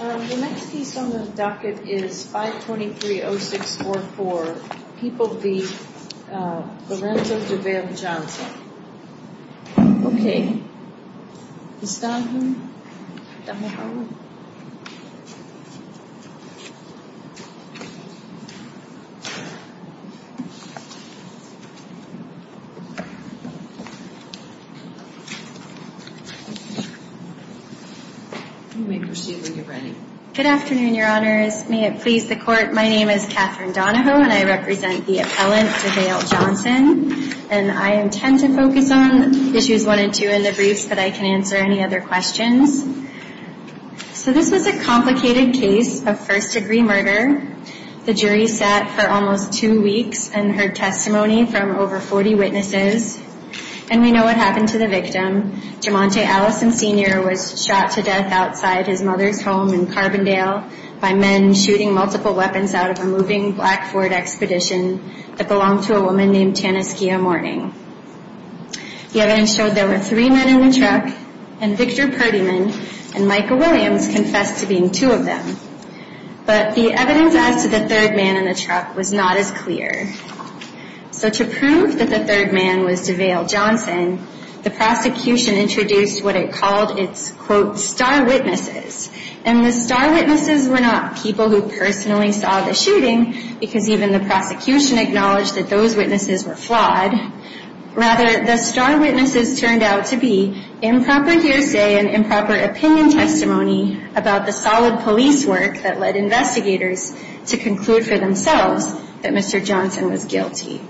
The next piece on the docket is 523-0644, People v. Lorenzo Duvern Johnson Good afternoon, Your Honors. May it please the Court, my name is Katherine Donahoe and I represent the appellant DeVale Johnson. I intend to focus on issues 1 and 2 in the briefs, but I can answer any other questions. This was a complicated case of first-degree murder. The jury sat for almost two weeks and heard testimony from over 40 witnesses. And we know what happened to the victim. Jumante Allison Sr. was shot to death outside his mother's home in Carbondale by men shooting multiple weapons out of a moving black Ford Expedition that belonged to a woman named Tanaskia Mourning. The evidence showed there were three men in the truck, and Victor Purdyman and Michael Williams confessed to being two of them. But the evidence as to the third man in the truck was not as clear. So to prove that the third man was DeVale Johnson, the prosecution introduced what it called its, quote, star witnesses. And the star witnesses were not people who personally saw the shooting, because even the prosecution acknowledged that those witnesses were flawed. Rather, the star witnesses turned out to be improper hearsay and improper opinion testimony about the solid police work that led investigators to conclude for themselves that Mr. Johnson was guilty.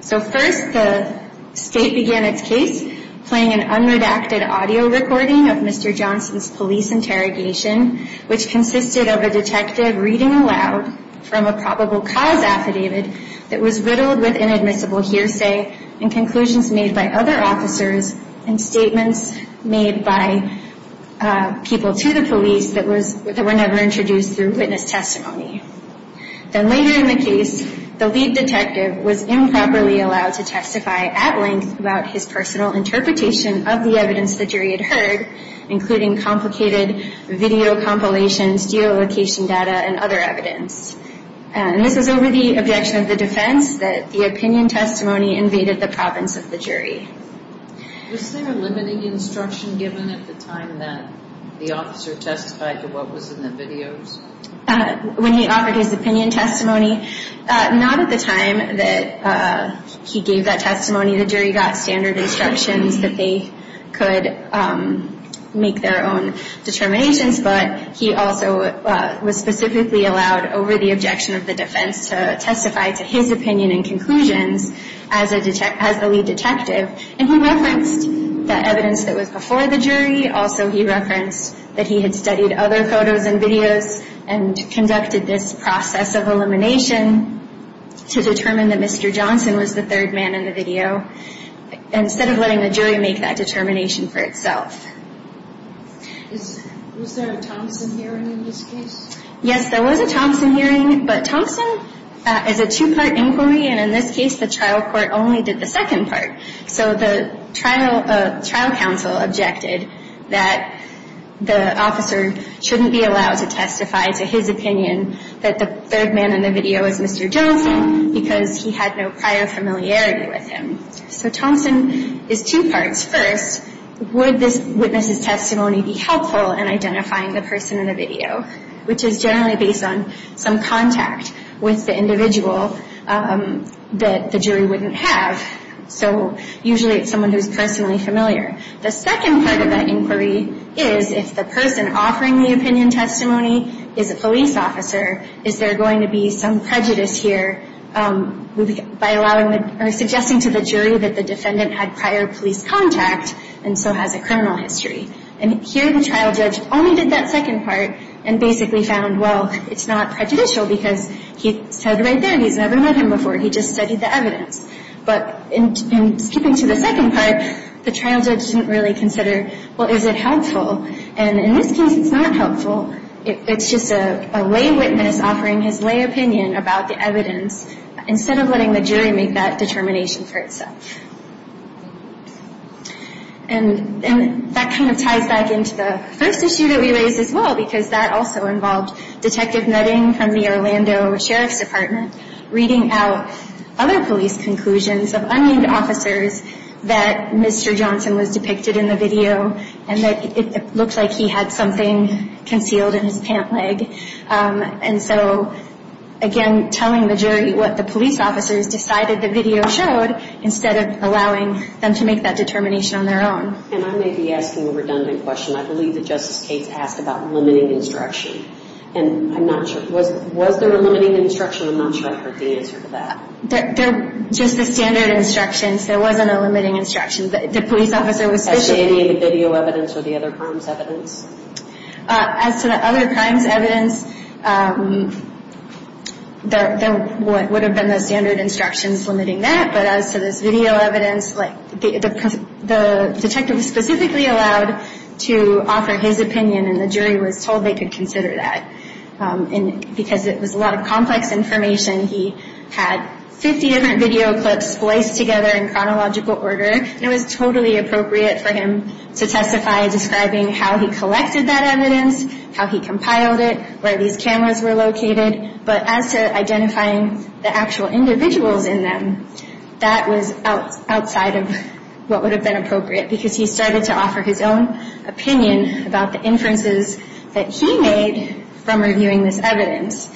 So first, the state began its case playing an unredacted audio recording of Mr. Johnson's police interrogation, which consisted of a detective reading aloud from a probable cause affidavit that was riddled with inadmissible hearsay and conclusions made by other officers and statements made by people to the police that were never introduced through witness testimony. Then later in the case, the lead detective was improperly allowed to testify at length about his personal interpretation of the evidence the jury had heard, including complicated video compilations, geolocation data, and other evidence. And this was over the objection of the defense that the opinion testimony invaded the province of the jury. Was there a limiting instruction given at the time that the officer testified to what was in the videos? When he offered his opinion testimony, not at the time that he gave that testimony. The jury got standard instructions that they could make their own determinations, but he also was specifically allowed over the objection of the defense to testify to his opinion and conclusions as the lead detective. And he referenced the evidence that was before the jury. Also, he referenced that he had studied other photos and videos and conducted this process of elimination to determine that Mr. Johnson was the third man in the video, instead of letting the jury make that determination for itself. Was there a Thompson hearing in this case? Yes, there was a Thompson hearing, but Thompson is a two-part inquiry, and in this case, the trial court only did the second part. So the trial counsel objected that the officer shouldn't be allowed to testify to his opinion that the third man in the video is Mr. Johnson because he had no prior familiarity with him. So Thompson is two parts. First, would this witness's testimony be helpful in identifying the person in the video, which is generally based on some contact with the individual that the jury wouldn't have. So usually it's someone who's personally familiar. The second part of that inquiry is if the person offering the opinion testimony is a police officer, is there going to be some prejudice here by suggesting to the jury that the defendant had prior police contact and so has a criminal history. And here the trial judge only did that second part and basically found, well, it's not prejudicial because he said right there he's never met him before, he just studied the evidence. But in skipping to the second part, the trial judge didn't really consider, well, is it helpful. And in this case it's not helpful. It's just a lay witness offering his lay opinion about the evidence instead of letting the jury make that determination for itself. And that kind of ties back into the first issue that we raised as well because that also involved Detective Nutting from the Orlando Sheriff's Department reading out other police conclusions of unnamed officers that Mr. Johnson was depicted in the video and that it looked like he had something concealed in his pant leg. And so, again, telling the jury what the police officers decided the video showed instead of allowing them to make that determination on their own. And I may be asking a redundant question. I believe that Justice Cates asked about limiting instruction. And I'm not sure, was there a limiting instruction? I'm not sure I heard the answer to that. Just the standard instructions. There wasn't a limiting instruction. As to any of the video evidence or the other crimes evidence? As to the other crimes evidence, there would have been the standard instructions limiting that. But as to this video evidence, the detective was specifically allowed to offer his opinion and the jury was told they could consider that because it was a lot of complex information. He had 50 different video clips spliced together in chronological order and it was totally appropriate for him to testify describing how he collected that evidence, how he compiled it, where these cameras were located. But as to identifying the actual individuals in them, that was outside of what would have been appropriate because he started to offer his own opinion about the inferences that he made from reviewing this evidence.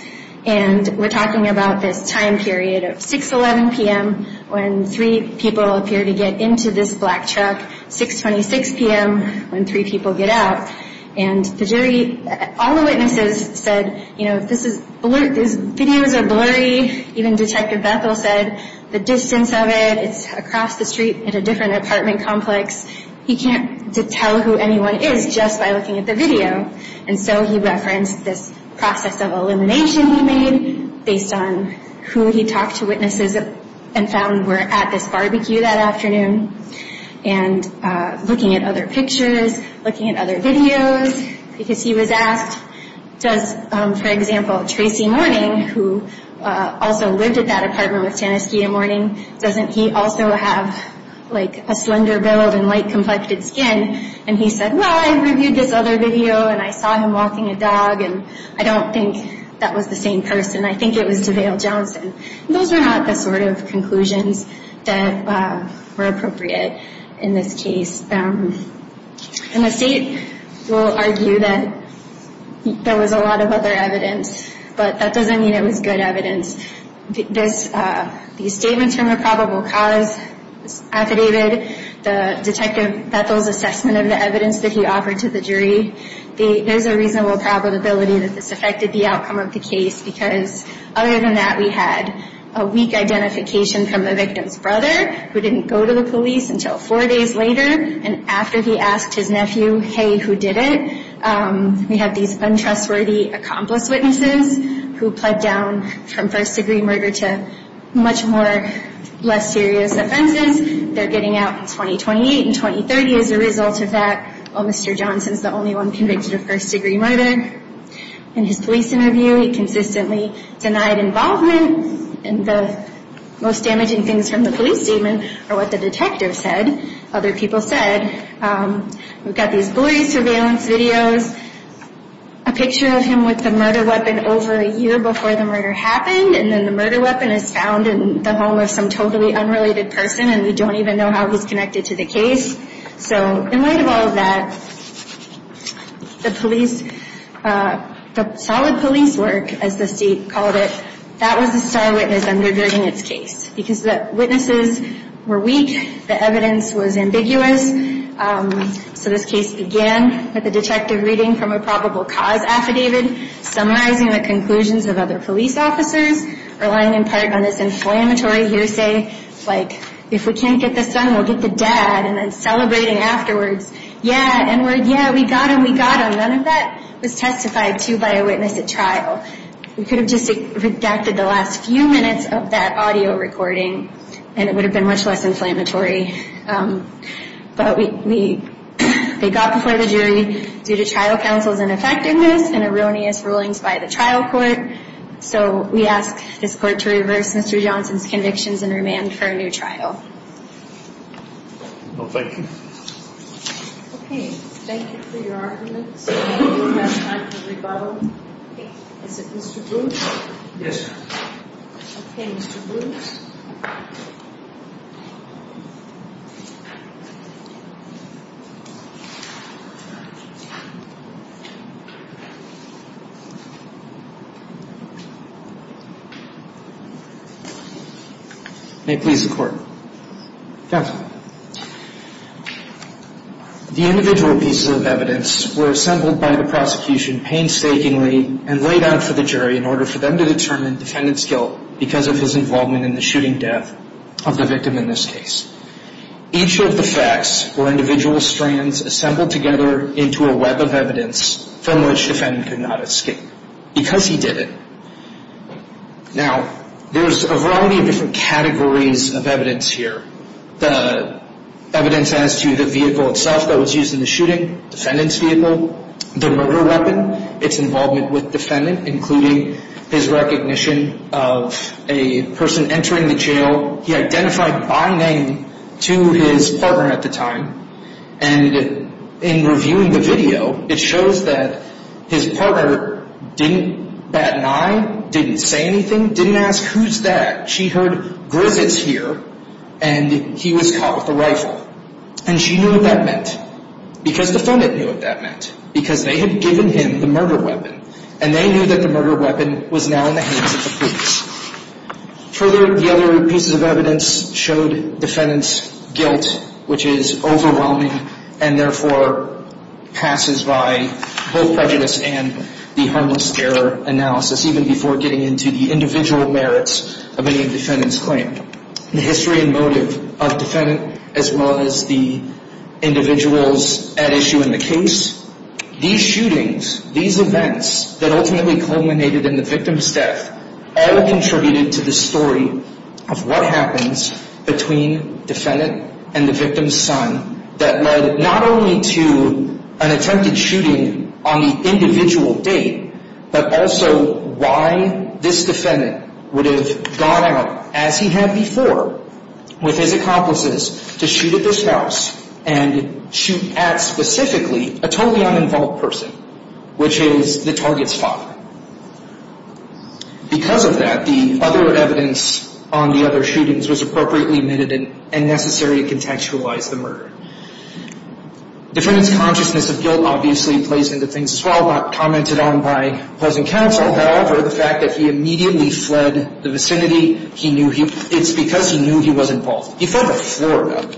And we're talking about this time period of 6.11 p.m. when three people appear to get into this black truck, 6.26 p.m. when three people get out. And the jury, all the witnesses said, you know, this is, these videos are blurry. Even Detective Bethel said the distance of it, it's across the street in a different apartment complex. He can't tell who anyone is just by looking at the video. And so he referenced this process of elimination he made based on who he talked to witnesses and found were at this barbecue that afternoon and looking at other pictures, looking at other videos because he was asked, does, for example, Tracy Mourning, who also lived at that apartment with Taniskia Mourning, doesn't he also have, like, a slender build and light-complected skin? And he said, well, I reviewed this other video and I saw him walking a dog and I don't think that was the same person. I think it was DeVale Johnson. Those are not the sort of conclusions that were appropriate in this case. And the state will argue that there was a lot of other evidence, but that doesn't mean it was good evidence. The statements from the probable cause affidavit, the Detective Bethel's assessment of the evidence that he offered to the jury, there's a reasonable probability that this affected the outcome of the case because other than that, we had a weak identification from the victim's brother who didn't go to the police until four days later and after he asked his nephew, hey, who did it? We have these untrustworthy accomplice witnesses who pled down from first-degree murder to much more less serious offenses. They're getting out in 2028 and 2030 as a result of that. Well, Mr. Johnson's the only one convicted of first-degree murder. In his police interview, he consistently denied involvement. And the most damaging things from the police statement are what the detective said, other people said. We've got these blurry surveillance videos, a picture of him with a murder weapon over a year before the murder happened, and then the murder weapon is found in the home of some totally unrelated person and we don't even know how he's connected to the case. So in light of all of that, the police, the solid police work, as the state called it, that was a star witness undergirding its case because the witnesses were weak, the evidence was ambiguous. So this case began with the detective reading from a probable cause affidavit, summarizing the conclusions of other police officers, relying in part on this inflammatory hearsay, like if we can't get this done, we'll get the dad, and then celebrating afterwards. Yeah, and we're, yeah, we got him, we got him. None of that was testified to by a witness at trial. We could have just redacted the last few minutes of that audio recording and it would have been much less inflammatory. But we, they got before the jury due to trial counsel's ineffectiveness and erroneous rulings by the trial court. So we ask this court to reverse Mr. Johnson's convictions and remand for a new trial. Well, thank you. Okay, thank you for your arguments. We have time for rebuttal. Is it Mr. Booth? Yes, ma'am. Okay, Mr. Booth. May it please the court. Counsel. The individual pieces of evidence were assembled by the prosecution painstakingly and laid out for the jury in order for them to determine the defendant's guilt because of his involvement in the shooting death of the victim in this case. Each of the facts were individual strands assembled together into a web of evidence from which the defendant could not escape because he did it. Now, there's a variety of different categories of evidence here. The evidence as to the vehicle itself that was used in the shooting, defendant's vehicle, the murder weapon, its involvement with defendant, including his recognition of a person entering the jail. He identified by name to his partner at the time. And in reviewing the video, it shows that his partner didn't bat an eye, didn't say anything, didn't ask who's that. She heard, Griffith's here, and he was caught with a rifle. And she knew what that meant because the defendant knew what that meant because they had given him the murder weapon. And they knew that the murder weapon was now in the hands of the police. Further, the other pieces of evidence showed defendant's guilt, which is overwhelming and therefore passes by both prejudice and the harmless error analysis, even before getting into the individual merits of any defendant's claim. The history and motive of defendant as well as the individuals at issue in the case. These shootings, these events that ultimately culminated in the victim's death, all contributed to the story of what happens between defendant and the victim's son that led not only to an attempted shooting on the individual date, but also why this defendant would have gone out as he had before with his accomplices to shoot at this house and shoot at, specifically, a totally uninvolved person, which is the target's father. Because of that, the other evidence on the other shootings was appropriately omitted and necessary to contextualize the murder. Defendant's consciousness of guilt obviously plays into things as well, commented on by pleasant counsel. However, the fact that he immediately fled the vicinity, it's because he knew he was involved. He fled to Florida.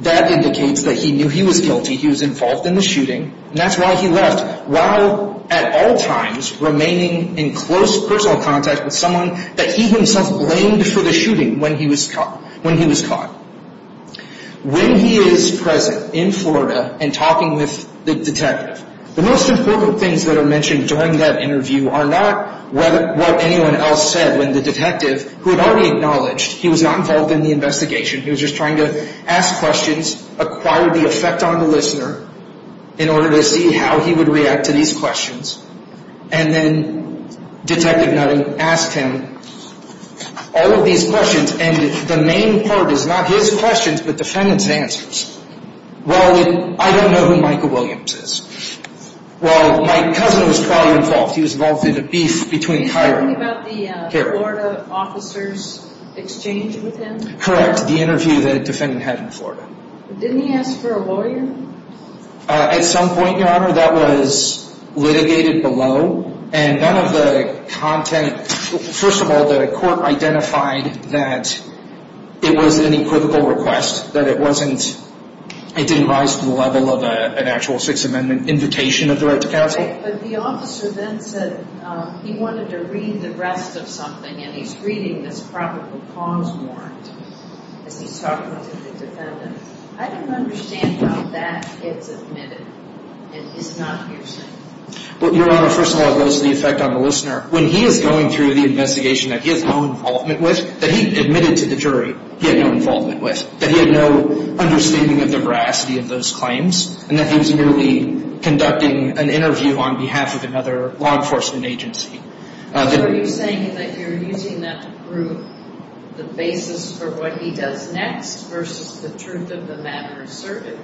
That indicates that he knew he was guilty. He was involved in the shooting. That's why he left while at all times remaining in close personal contact with someone that he himself blamed for the shooting when he was caught. When he is present in Florida and talking with the detective, the most important things that are mentioned during that interview are not what anyone else said when the detective, who had already acknowledged he was not involved in the investigation, he was just trying to ask questions, acquired the effect on the listener in order to see how he would react to these questions, and then Detective Nutting asked him all of these questions, and the main part is not his questions but defendant's answers. Well, I don't know who Michael Williams is. Well, my cousin was probably involved. He was involved in a beef between Kyra and Kerry. Are you talking about the Florida officer's exchange with him? Correct, the interview that the defendant had in Florida. Didn't he ask for a lawyer? At some point, Your Honor, that was litigated below, and none of the content. First of all, the court identified that it was an equivocal request, that it didn't rise to the level of an actual Sixth Amendment invitation of the right to counsel. But the officer then said he wanted to read the rest of something, and he's reading this probable cause warrant as he's talking to the defendant. I don't understand how that gets admitted and is not hearsay. Well, Your Honor, first of all, it goes to the effect on the listener. When he is going through the investigation that he has no involvement with, that he admitted to the jury he had no involvement with, that he had no understanding of the veracity of those claims, and that he was merely conducting an interview on behalf of another law enforcement agency. Are you saying that you're using that to prove the basis for what he does next versus the truth of the matter asserted?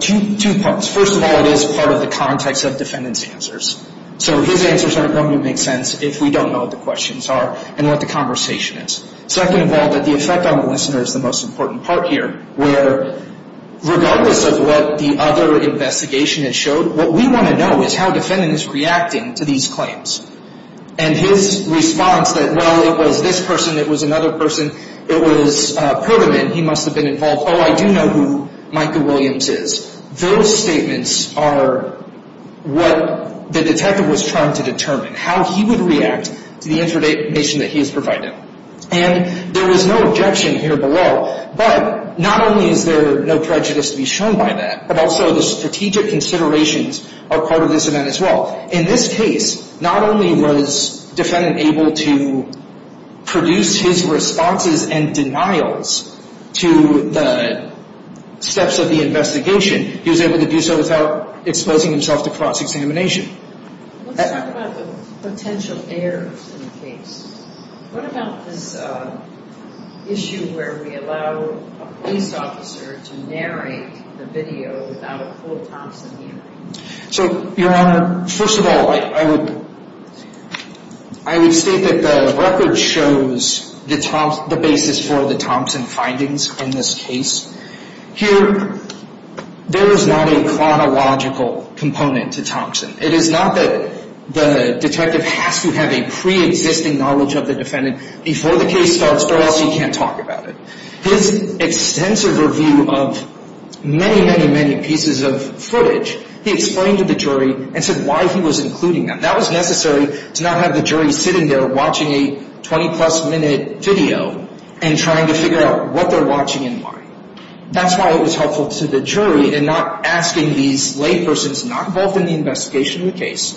Two parts. First of all, it is part of the context of the defendant's answers. So his answers aren't going to make sense if we don't know what the questions are and what the conversation is. Second of all, the effect on the listener is the most important part here, where regardless of what the other investigation has showed, what we want to know is how the defendant is reacting to these claims. And his response that, well, it was this person, it was another person, it was Pergamon, he must have been involved, oh, I do know who Micah Williams is, those statements are what the detective was trying to determine, how he would react to the information that he has provided. And there is no objection here below. But not only is there no prejudice to be shown by that, but also the strategic considerations are part of this event as well. In this case, not only was the defendant able to produce his responses and denials to the steps of the investigation, he was able to do so without exposing himself to cross-examination. Let's talk about the potential errors in the case. What about this issue where we allow a police officer to narrate the video without a full Thompson hearing? So, Your Honor, first of all, I would state that the record shows the basis for the Thompson findings in this case. Here, there is not a chronological component to Thompson. It is not that the detective has to have a pre-existing knowledge of the defendant before the case starts or else he can't talk about it. His extensive review of many, many, many pieces of footage, he explained to the jury and said why he was including them. That was necessary to not have the jury sitting there watching a 20-plus minute video and trying to figure out what they're watching and why. That's why it was helpful to the jury in not asking these laypersons not involved in the investigation of the case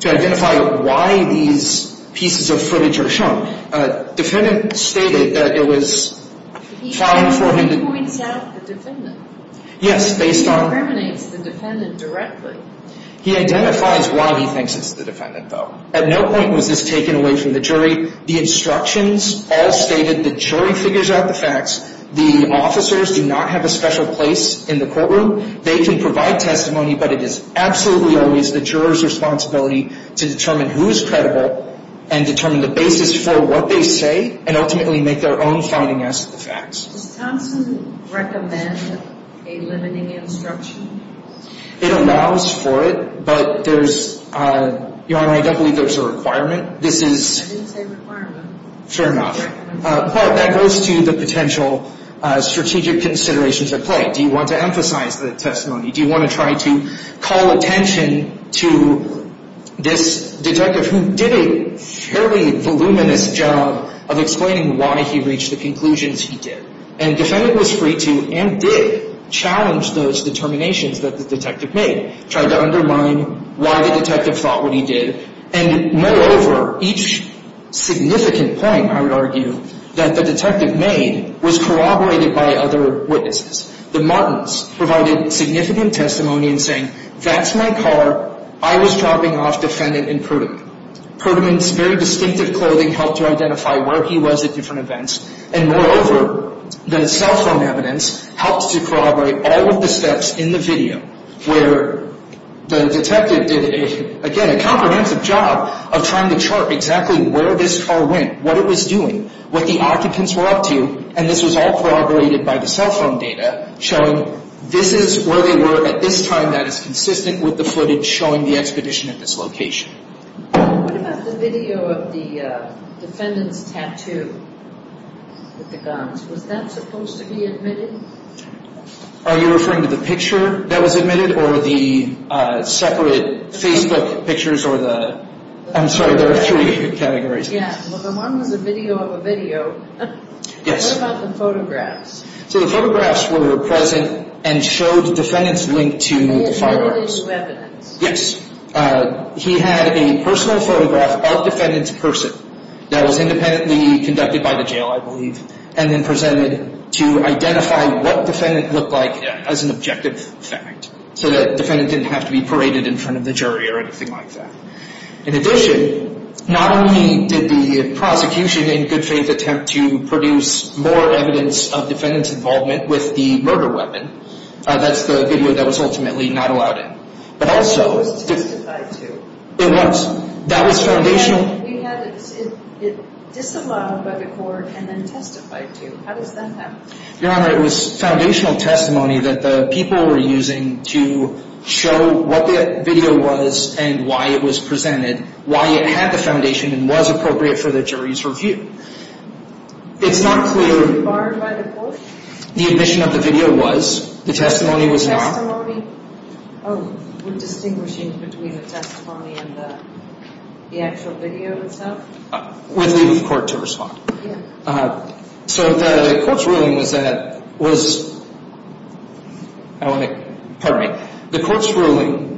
to identify why these pieces of footage are shown. The defendant stated that it was found for him to... He points out the defendant. Yes, based on... He identifies why he thinks it's the defendant, though. At no point was this taken away from the jury. The instructions all stated. The jury figures out the facts. The officers do not have a special place in the courtroom. They can provide testimony, but it is absolutely always the juror's responsibility to determine who is credible and determine the basis for what they say and ultimately make their own finding as to the facts. Does Thompson recommend a limiting instruction? It allows for it, but there's... Your Honor, I don't believe there's a requirement. This is... I didn't say requirement. Fair enough. But that goes to the potential strategic considerations at play. Do you want to emphasize the testimony? Do you want to try to call attention to this detective who did a fairly voluminous job of explaining why he reached the conclusions he did? And defendant was free to and did challenge those determinations that the detective made. Tried to undermine why the detective thought what he did. And moreover, each significant point, I would argue, that the detective made was corroborated by other witnesses. The Martins provided significant testimony in saying, that's my car, I was dropping off defendant in Perttman. Perttman's very distinctive clothing helped to identify where he was at different events. And moreover, the cell phone evidence helped to corroborate all of the steps in the video where the detective did, again, a comprehensive job of trying to chart exactly where this car went, what it was doing, what the occupants were up to, and this was all corroborated by the cell phone data showing this is where they were at this time that is consistent with the footage showing the expedition at this location. What about the video of the defendant's tattoo with the guns? Was that supposed to be admitted? Are you referring to the picture that was admitted? Or the separate Facebook pictures or the... I'm sorry, there are three categories. Yeah, well, the one was a video of a video. Yes. What about the photographs? So the photographs were present and showed defendant's link to the fireworks. They had evidence? Yes. He had a personal photograph of defendant's person that was independently conducted by the jail, I believe, and then presented to identify what defendant looked like as an objective fact so that defendant didn't have to be paraded in front of the jury or anything like that. In addition, not only did the prosecution in good faith attempt to produce more evidence of defendant's involvement with the murder weapon, that's the video that was ultimately not allowed in, but also... It was testified to. It was. That was foundational... We had it disallowed by the court and then testified to. How does that happen? Your Honor, it was foundational testimony that the people were using to show what the video was and why it was presented, why it had the foundation and was appropriate for the jury's review. It's not clear... Was it barred by the court? The admission of the video was. The testimony was not. The testimony? Oh, we're distinguishing between the testimony and the actual video itself? We'll leave the court to respond. Yeah. So the court's ruling was that... Pardon me. The court's ruling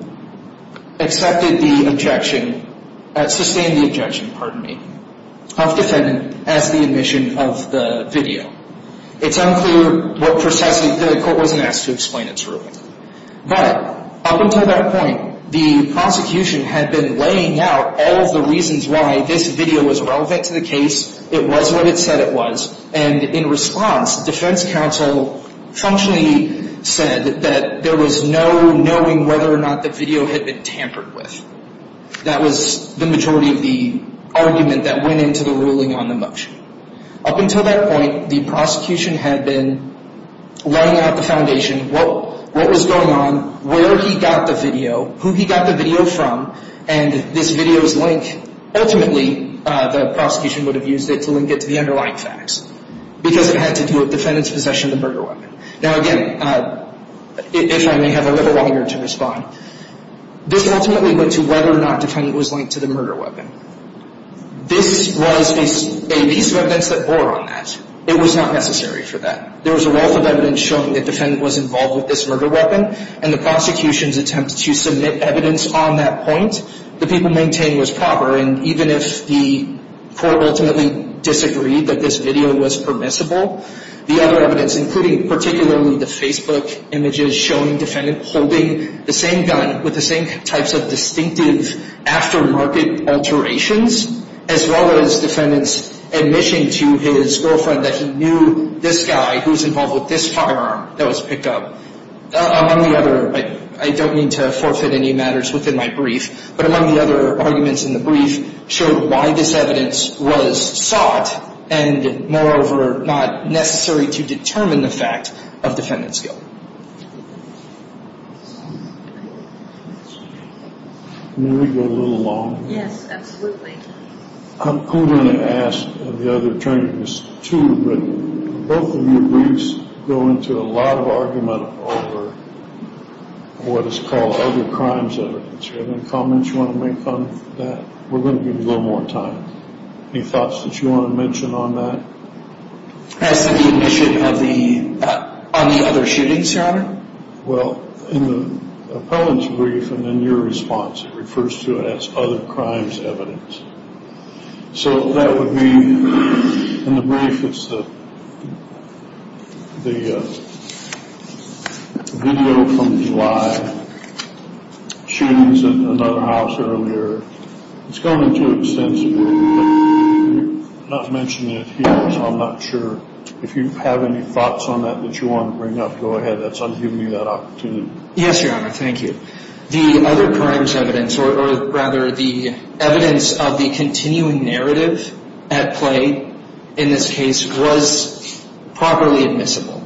accepted the objection... Sustained the objection, pardon me, of defendant as the admission of the video. It's unclear what precisely... The court wasn't asked to explain its ruling. But up until that point, the prosecution had been laying out all of the reasons why this video was relevant to the case, it was what it said it was, and in response, defense counsel functionally said that there was no knowing whether or not the video had been tampered with. That was the majority of the argument that went into the ruling on the motion. Up until that point, the prosecution had been laying out the foundation, what was going on, where he got the video, who he got the video from, and this video's link. Ultimately, the prosecution would have used it to link it to the underlying facts because it had to do with the defendant's possession of the murder weapon. Now again, if I may have a little longer to respond, this ultimately went to whether or not the defendant was linked to the murder weapon. This was a piece of evidence that bore on that. It was not necessary for that. There was a wealth of evidence showing that the defendant was involved with this murder weapon, and the prosecution's attempt to submit evidence on that point, the people maintained was proper, and even if the court ultimately disagreed that this video was permissible, the other evidence, including particularly the Facebook images showing the defendant holding the same gun with the same types of distinctive aftermarket alterations, as well as defendants' admission to his girlfriend that he knew this guy who was involved with this firearm that was picked up, among the other, I don't mean to forfeit any matters within my brief, but among the other arguments in the brief showed why this evidence was sought and moreover not necessary to determine the fact of defendant's guilt. May we go a little longer? Yes, absolutely. I'm going to ask the other attorneys too, but both of your briefs go into a lot of argument over what is called other crimes evidence. Do you have any comments you want to make on that? We're going to give you a little more time. Any thoughts that you want to mention on that? As to the admission on the other shootings, Your Honor? Well, in the appellant's brief and in your response, it refers to it as other crimes evidence. So that would mean in the brief it's the video from July, shootings at another house earlier. It's gone into extensibility, but you're not mentioning it here, so I'm not sure if you have any thoughts on that that you want to bring up. Go ahead. That's on giving you that opportunity. Yes, Your Honor. Thank you. The other crimes evidence, or rather the evidence of the continuing narrative at play in this case was properly admissible.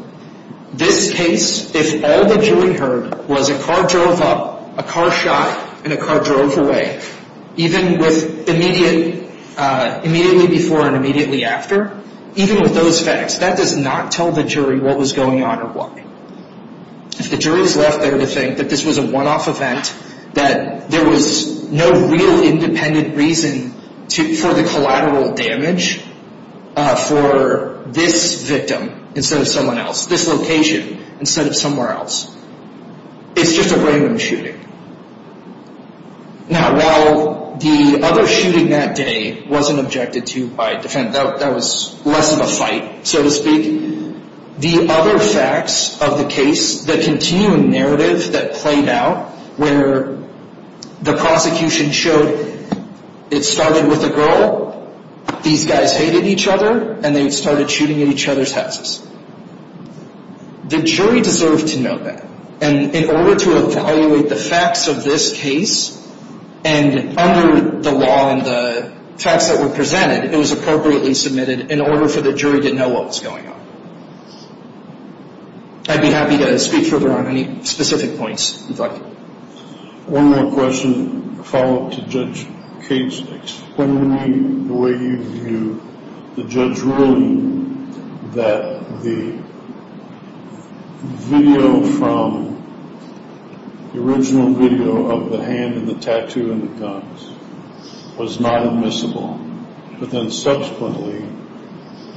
This case, if all the jury heard was a car drove up, a car shot, and a car drove away, even with immediately before and immediately after, even with those facts, that does not tell the jury what was going on or why. If the jury is left there to think that this was a one-off event, that there was no real independent reason for the collateral damage for this victim instead of someone else, this location instead of somewhere else, it's just a random shooting. Now, while the other shooting that day wasn't objected to by defense, that was less of a fight, so to speak, the other facts of the case, the continuing narrative that played out, where the prosecution showed it started with a girl, these guys hated each other, and they started shooting at each other's houses. The jury deserved to know that. And in order to evaluate the facts of this case, and under the law and the facts that were presented, it was appropriately submitted in order for the jury to know what was going on. I'd be happy to speak further on any specific points if you'd like. One more question, a follow-up to Judge Cates. Explain to me the way you view the judge's ruling that the video from, the original video of the hand and the tattoo and the guns was not admissible, but then subsequently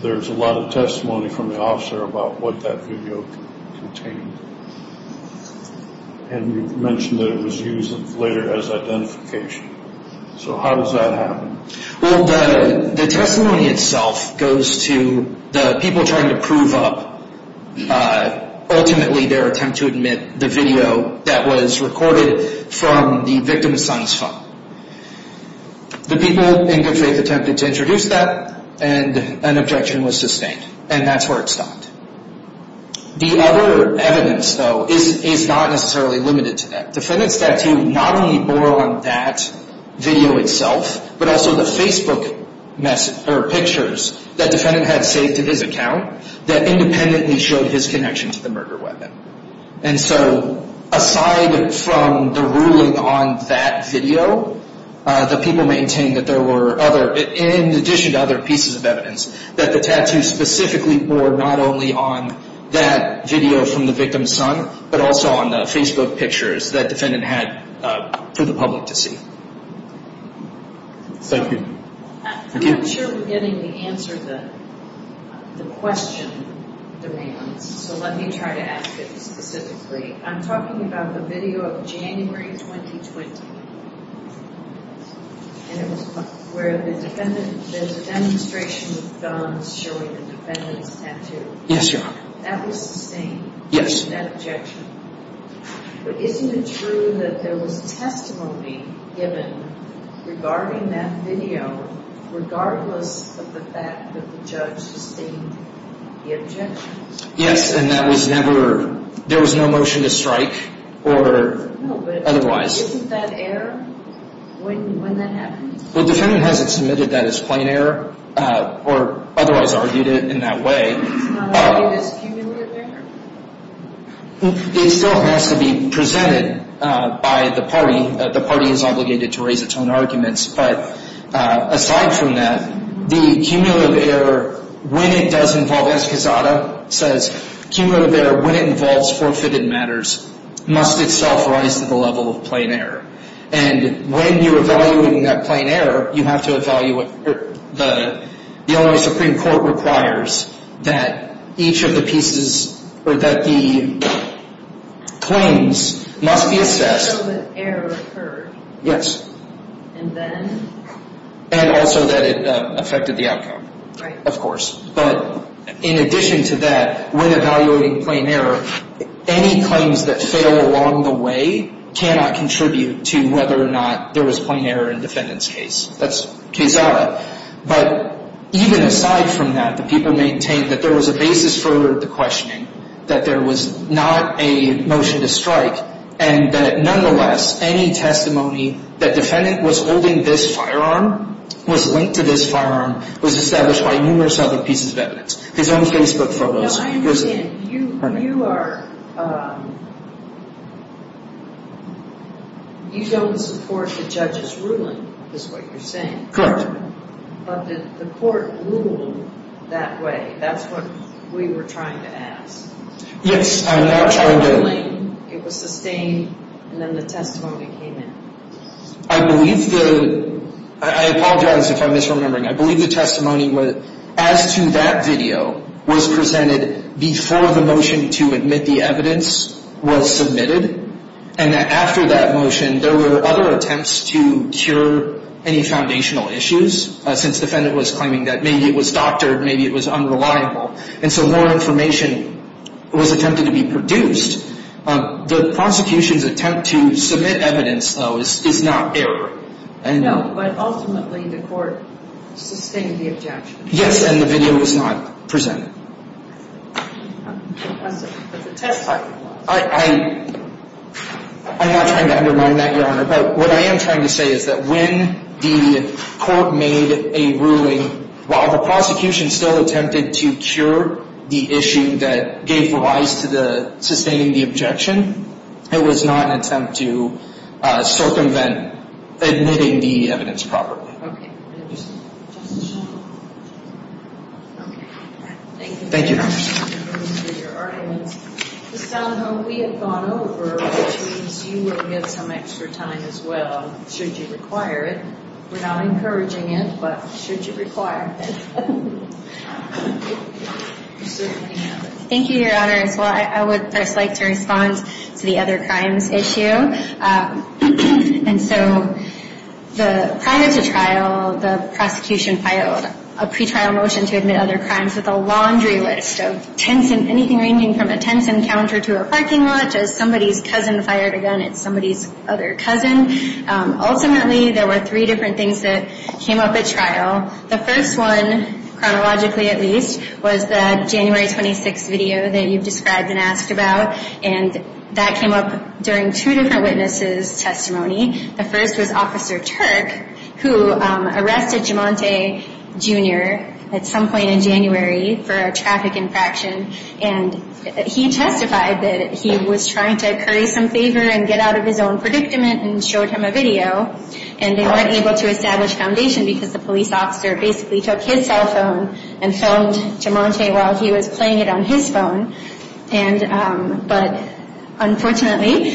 there's a lot of testimony from the officer about what that video contained. And you mentioned that it was used later as identification. So how does that happen? Well, the testimony itself goes to the people trying to prove up, ultimately, their attempt to admit the video that was recorded from the victim's son's phone. The people in good faith attempted to introduce that, and an objection was sustained. And that's where it stopped. The other evidence, though, is not necessarily limited to that. Defendant's tattoo not only bore on that video itself, but also the Facebook pictures that defendant had saved to his account that independently showed his connection to the murder weapon. And so aside from the ruling on that video, the people maintain that there were other, in addition to other pieces of evidence, that the tattoo specifically bore not only on that video from the victim's son, but also on the Facebook pictures that defendant had for the public to see. Thank you. I'm not sure we're getting the answer that the question demands, so let me try to ask it specifically. I'm talking about the video of January 2020. And it was where the defendant, there's a demonstration of guns showing the defendant's tattoo. Yes, Your Honor. That was sustained. Yes. That objection. But isn't it true that there was testimony given regarding that video regardless of the fact that the judge sustained the objection? Yes, and that was never, there was no motion to strike or otherwise. No, but isn't that error when that happens? Well, defendant hasn't submitted that as plain error or otherwise argued it in that way. It's not argued as cumulative error? It still has to be presented by the party. The party is obligated to raise its own arguments. But aside from that, the cumulative error when it does involve, says cumulative error when it involves forfeited matters must itself rise to the level of plain error. And when you're evaluating that plain error, you have to evaluate, the Illinois Supreme Court requires that each of the pieces, or that the claims must be assessed. So that error occurred. Yes. And then? And also that it affected the outcome. Right. Yes, of course. But in addition to that, when evaluating plain error, any claims that fail along the way cannot contribute to whether or not there was plain error in defendant's case. That's case audit. But even aside from that, the people maintained that there was a basis for the questioning, that there was not a motion to strike, and that nonetheless any testimony that defendant was holding this firearm, was linked to this firearm, was established by numerous other pieces of evidence. His own Facebook photos. No, I understand. You are, you don't support the judge's ruling, is what you're saying. Correct. But did the court rule that way? That's what we were trying to ask. Yes, I'm not trying to. It was a ruling, it was sustained, and then the testimony came in. I believe the, I apologize if I'm misremembering, I believe the testimony as to that video was presented before the motion to admit the evidence was submitted, and that after that motion there were other attempts to cure any foundational issues, since defendant was claiming that maybe it was doctored, maybe it was unreliable, and so more information was attempted to be produced. The prosecution's attempt to submit evidence, though, is not error. No, but ultimately the court sustained the objection. Yes, and the video was not presented. I'm sorry, but the testimony was. I'm not trying to undermine that, Your Honor, but what I am trying to say is that when the court made a ruling, while the prosecution still attempted to cure the issue that gave rise to the sustaining the objection, it was not an attempt to circumvent admitting the evidence properly. Okay. Thank you. Thank you, Your Honor. Thank you for your arguments. It sounds like we have gone over, which means you will get some extra time as well, should you require it. We're not encouraging it, but should you require it. Thank you, Your Honor. So I would first like to respond to the other crimes issue. And so prior to trial, the prosecution filed a pretrial motion to admit other crimes with a laundry list of anything ranging from a tense encounter to a parking lot, just somebody's cousin fired a gun at somebody's other cousin. Ultimately, there were three different things that came up at trial. The first one, chronologically at least, was the January 26th video that you've described and asked about. And that came up during two different witnesses' testimony. The first was Officer Turk, who arrested Jumante Jr. at some point in January for a traffic infraction. And he testified that he was trying to curry some favor and get out of his own predicament and showed him a video. And they weren't able to establish foundation because the police officer basically took his cell phone and filmed Jumante while he was playing it on his phone. But unfortunately,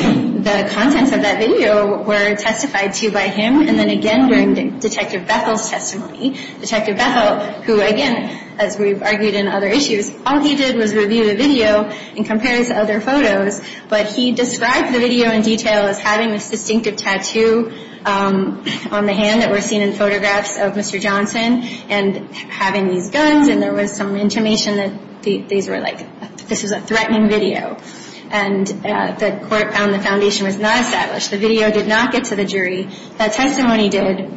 the contents of that video were testified to by him. And then again during Detective Bethel's testimony, Detective Bethel, who again, as we've argued in other issues, all he did was review the video and compare it to other photos. But he described the video in detail as having this distinctive tattoo on the hand that was seen in photographs of Mr. Johnson and having these guns and there was some intimation that these were like, this was a threatening video. And the court found the foundation was not established. The video did not get to the jury. That testimony did.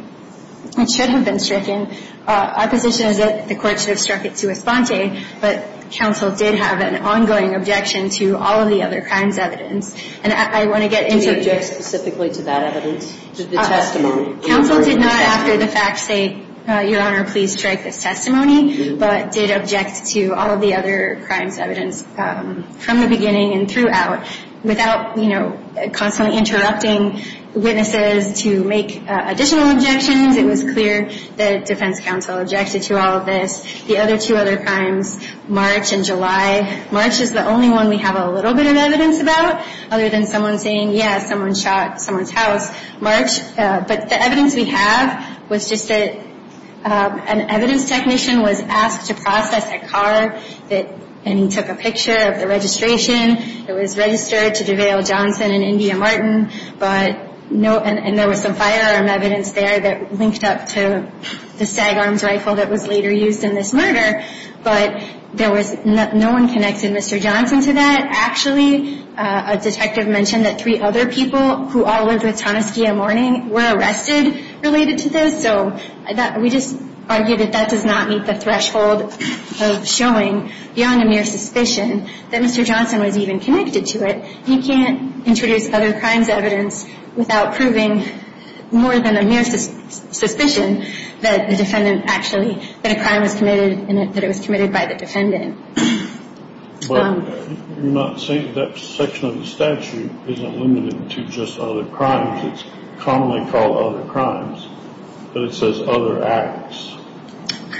It should have been stricken. Our position is that the court should have struck it to Esponte, but counsel did have an ongoing objection to all of the other crimes evidence. And I want to get into – Did he object specifically to that evidence? To the testimony? Counsel did not, after the fact, say, Your Honor, please strike this testimony, but did object to all of the other crimes evidence from the beginning and throughout without, you know, constantly interrupting witnesses to make additional objections. It was clear that defense counsel objected to all of this. The other two other crimes, March and July – March is the only one we have a little bit of evidence about, other than someone saying, yeah, someone shot someone's house. March – but the evidence we have was just that an evidence technician was asked to process a car and he took a picture of the registration. It was registered to DeVale Johnson and India Martin, and there was some firearm evidence there that linked up to the SAG arms rifle that was later used in this murder. But there was – no one connected Mr. Johnson to that. Actually, a detective mentioned that three other people who all lived with Tomaskia Mourning were arrested related to this. So we just argue that that does not meet the threshold of showing, beyond a mere suspicion, that Mr. Johnson was even connected to it. You can't introduce other crimes evidence without proving, more than a mere suspicion, that the defendant actually – that a crime was committed and that it was committed by the defendant. But you're not saying that section of the statute isn't limited to just other crimes. It's commonly called other crimes, but it says other acts.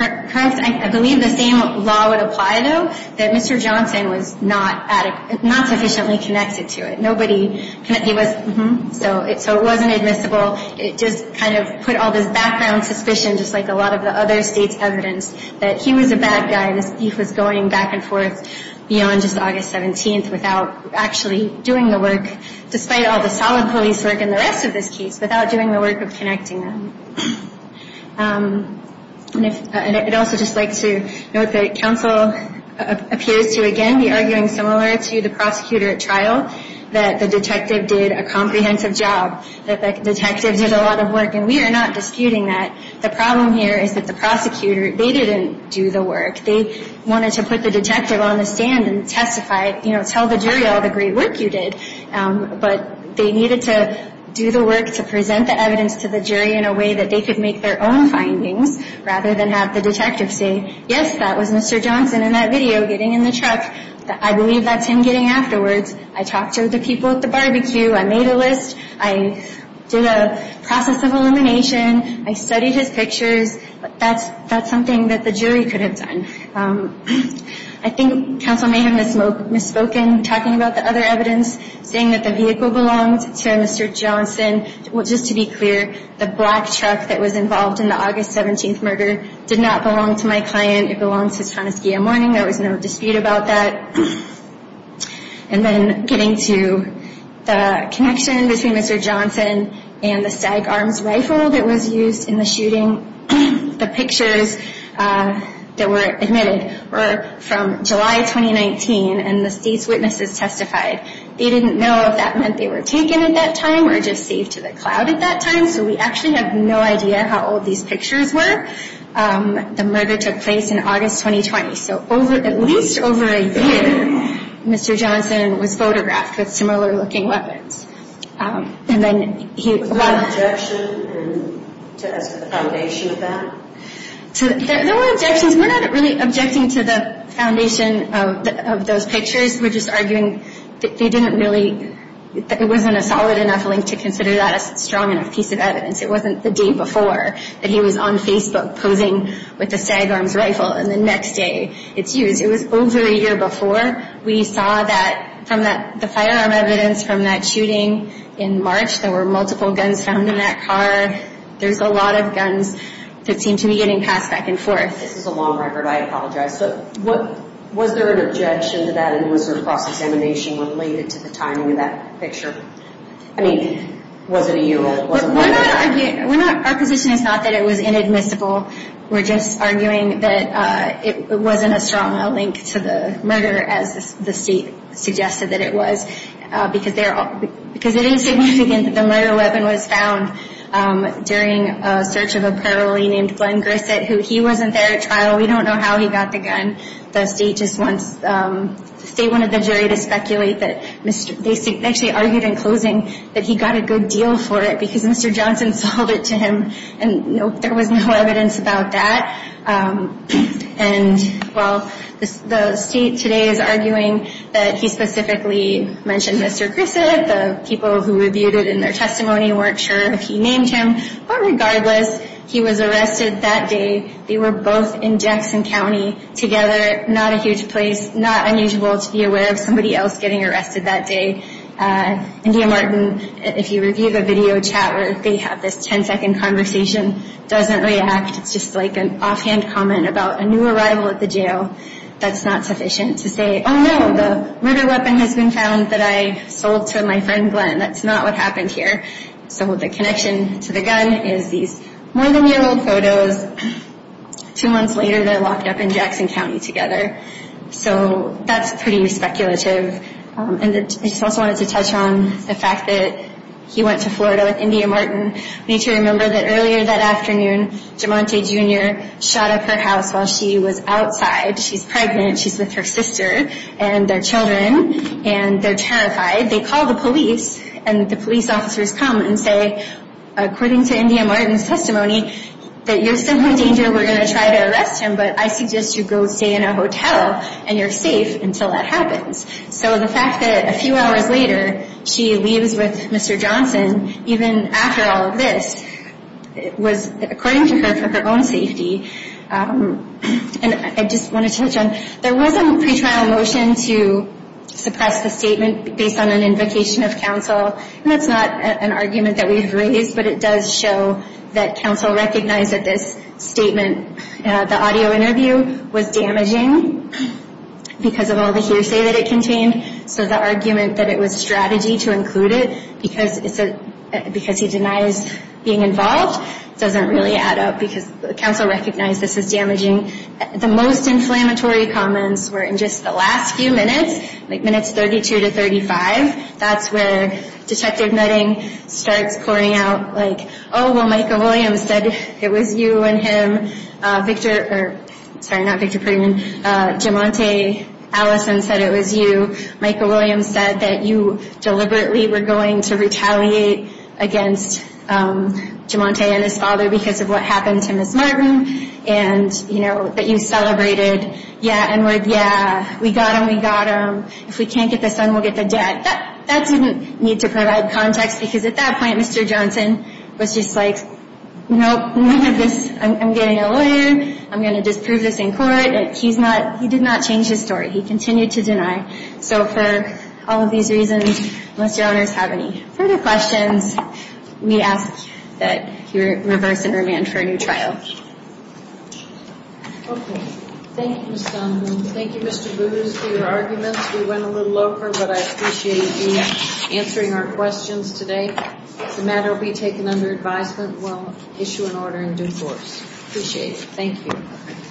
I believe the same law would apply, though, that Mr. Johnson was not sufficiently connected to it. Nobody – he was – so it wasn't admissible. It just kind of put all this background suspicion, just like a lot of the other states' evidence, that he was a bad guy and that he was going back and forth beyond just August 17th without actually doing the work, despite all the solid police work in the rest of this case, without doing the work of connecting them. And if – and I'd also just like to note that counsel appears to, again, be arguing, similar to the prosecutor at trial, that the detective did a comprehensive job, that the detective did a lot of work. And we are not disputing that. The problem here is that the prosecutor – they didn't do the work. They wanted to put the detective on the stand and testify – you know, tell the jury all the great work you did. But they needed to do the work to present the evidence to the jury in a way that they could make their own findings rather than have the detective say, yes, that was Mr. Johnson in that video getting in the truck. I believe that's him getting afterwards. I talked to the people at the barbecue. I made a list. I did a process of elimination. I studied his pictures. That's something that the jury could have done. I think counsel may have misspoken, talking about the other evidence, saying that the vehicle belonged to Mr. Johnson. Just to be clear, the black truck that was involved in the August 17th murder did not belong to my client. It belonged to Tanaski and Mourning. There was no dispute about that. And then getting to the connection between Mr. Johnson and the SAG arms rifle that was used in the shooting, the pictures that were admitted were from July 2019, and the state's witnesses testified. They didn't know if that meant they were taken at that time or just saved to the cloud at that time, so we actually have no idea how old these pictures were. The murder took place in August 2020. So at least over a year, Mr. Johnson was photographed with similar-looking weapons. Was there an objection as to the foundation of that? There were objections. We're not really objecting to the foundation of those pictures. We're just arguing that they didn't really – it wasn't a solid enough link to consider that a strong enough piece of evidence. It wasn't the day before that he was on Facebook posing with the SAG arms rifle, and the next day it's used. It was over a year before. We saw that from the firearm evidence from that shooting in March. There were multiple guns found in that car. There's a lot of guns that seem to be getting passed back and forth. This is a long record. I apologize. But was there an objection to that, and was there a cross-examination related to the timing of that picture? I mean, was it a year old? Our position is not that it was inadmissible. We're just arguing that it wasn't as strong a link to the murder as the state suggested that it was, because it is significant that the murder weapon was found during a search of a parolee named Glenn Grissett, who he wasn't there at trial. We don't know how he got the gun. The state just wants – the state wanted the jury to speculate that – they actually argued in closing that he got a good deal for it because Mr. Johnson sold it to him, and there was no evidence about that. And while the state today is arguing that he specifically mentioned Mr. Grissett, the people who reviewed it in their testimony weren't sure if he named him. But regardless, he was arrested that day. They were both in Jackson County together, not a huge place, not unusual to be aware of somebody else getting arrested that day. India Martin, if you review the video chat where they have this 10-second conversation, doesn't react. It's just like an offhand comment about a new arrival at the jail. That's not sufficient to say, oh, no, the murder weapon has been found that I sold to my friend Glenn. That's not what happened here. So the connection to the gun is these more than year old photos. Two months later, they're locked up in Jackson County together. So that's pretty speculative. And I just also wanted to touch on the fact that he went to Florida with India Martin. We need to remember that earlier that afternoon, Jamonte Jr. shot up her house while she was outside. She's pregnant. She's with her sister and their children, and they're terrified. They call the police, and the police officers come and say, according to India Martin's testimony, that you're still in danger, we're going to try to arrest him, but I suggest you go stay in a hotel and you're safe until that happens. So the fact that a few hours later she leaves with Mr. Johnson, even after all of this, was, according to her, for her own safety. And I just want to touch on, there was a pretrial motion to suppress the statement based on an invocation of counsel. And that's not an argument that we've raised, but it does show that counsel recognized that this statement, the audio interview, was damaging because of all the hearsay that it contained. So the argument that it was strategy to include it because he denies being involved doesn't really add up because counsel recognized this as damaging. The most inflammatory comments were in just the last few minutes, like minutes 32 to 35. That's where Detective Nutting starts pouring out, like, oh, well, Michael Williams said it was you and him, Victor, or, sorry, not Victor, Jim Monte, Allison said it was you. Michael Williams said that you deliberately were going to retaliate against Jim Monte and his father because of what happened to Ms. Martin, and, you know, that you celebrated, yeah, and were, yeah, we got him, we got him. Or if we can't get the son, we'll get the dad. That didn't need to provide context because at that point, Mr. Johnson was just like, nope, none of this. I'm getting a lawyer. I'm going to disprove this in court. He's not, he did not change his story. He continued to deny. So for all of these reasons, unless your owners have any further questions, we ask that you reverse and remand for a new trial. Okay. Thank you, Ms. Dunwoody. Thank you, Mr. Booz, for your arguments. We went a little over, but I appreciate you answering our questions today. If the matter will be taken under advisement, we'll issue an order in due course. Appreciate it. Thank you.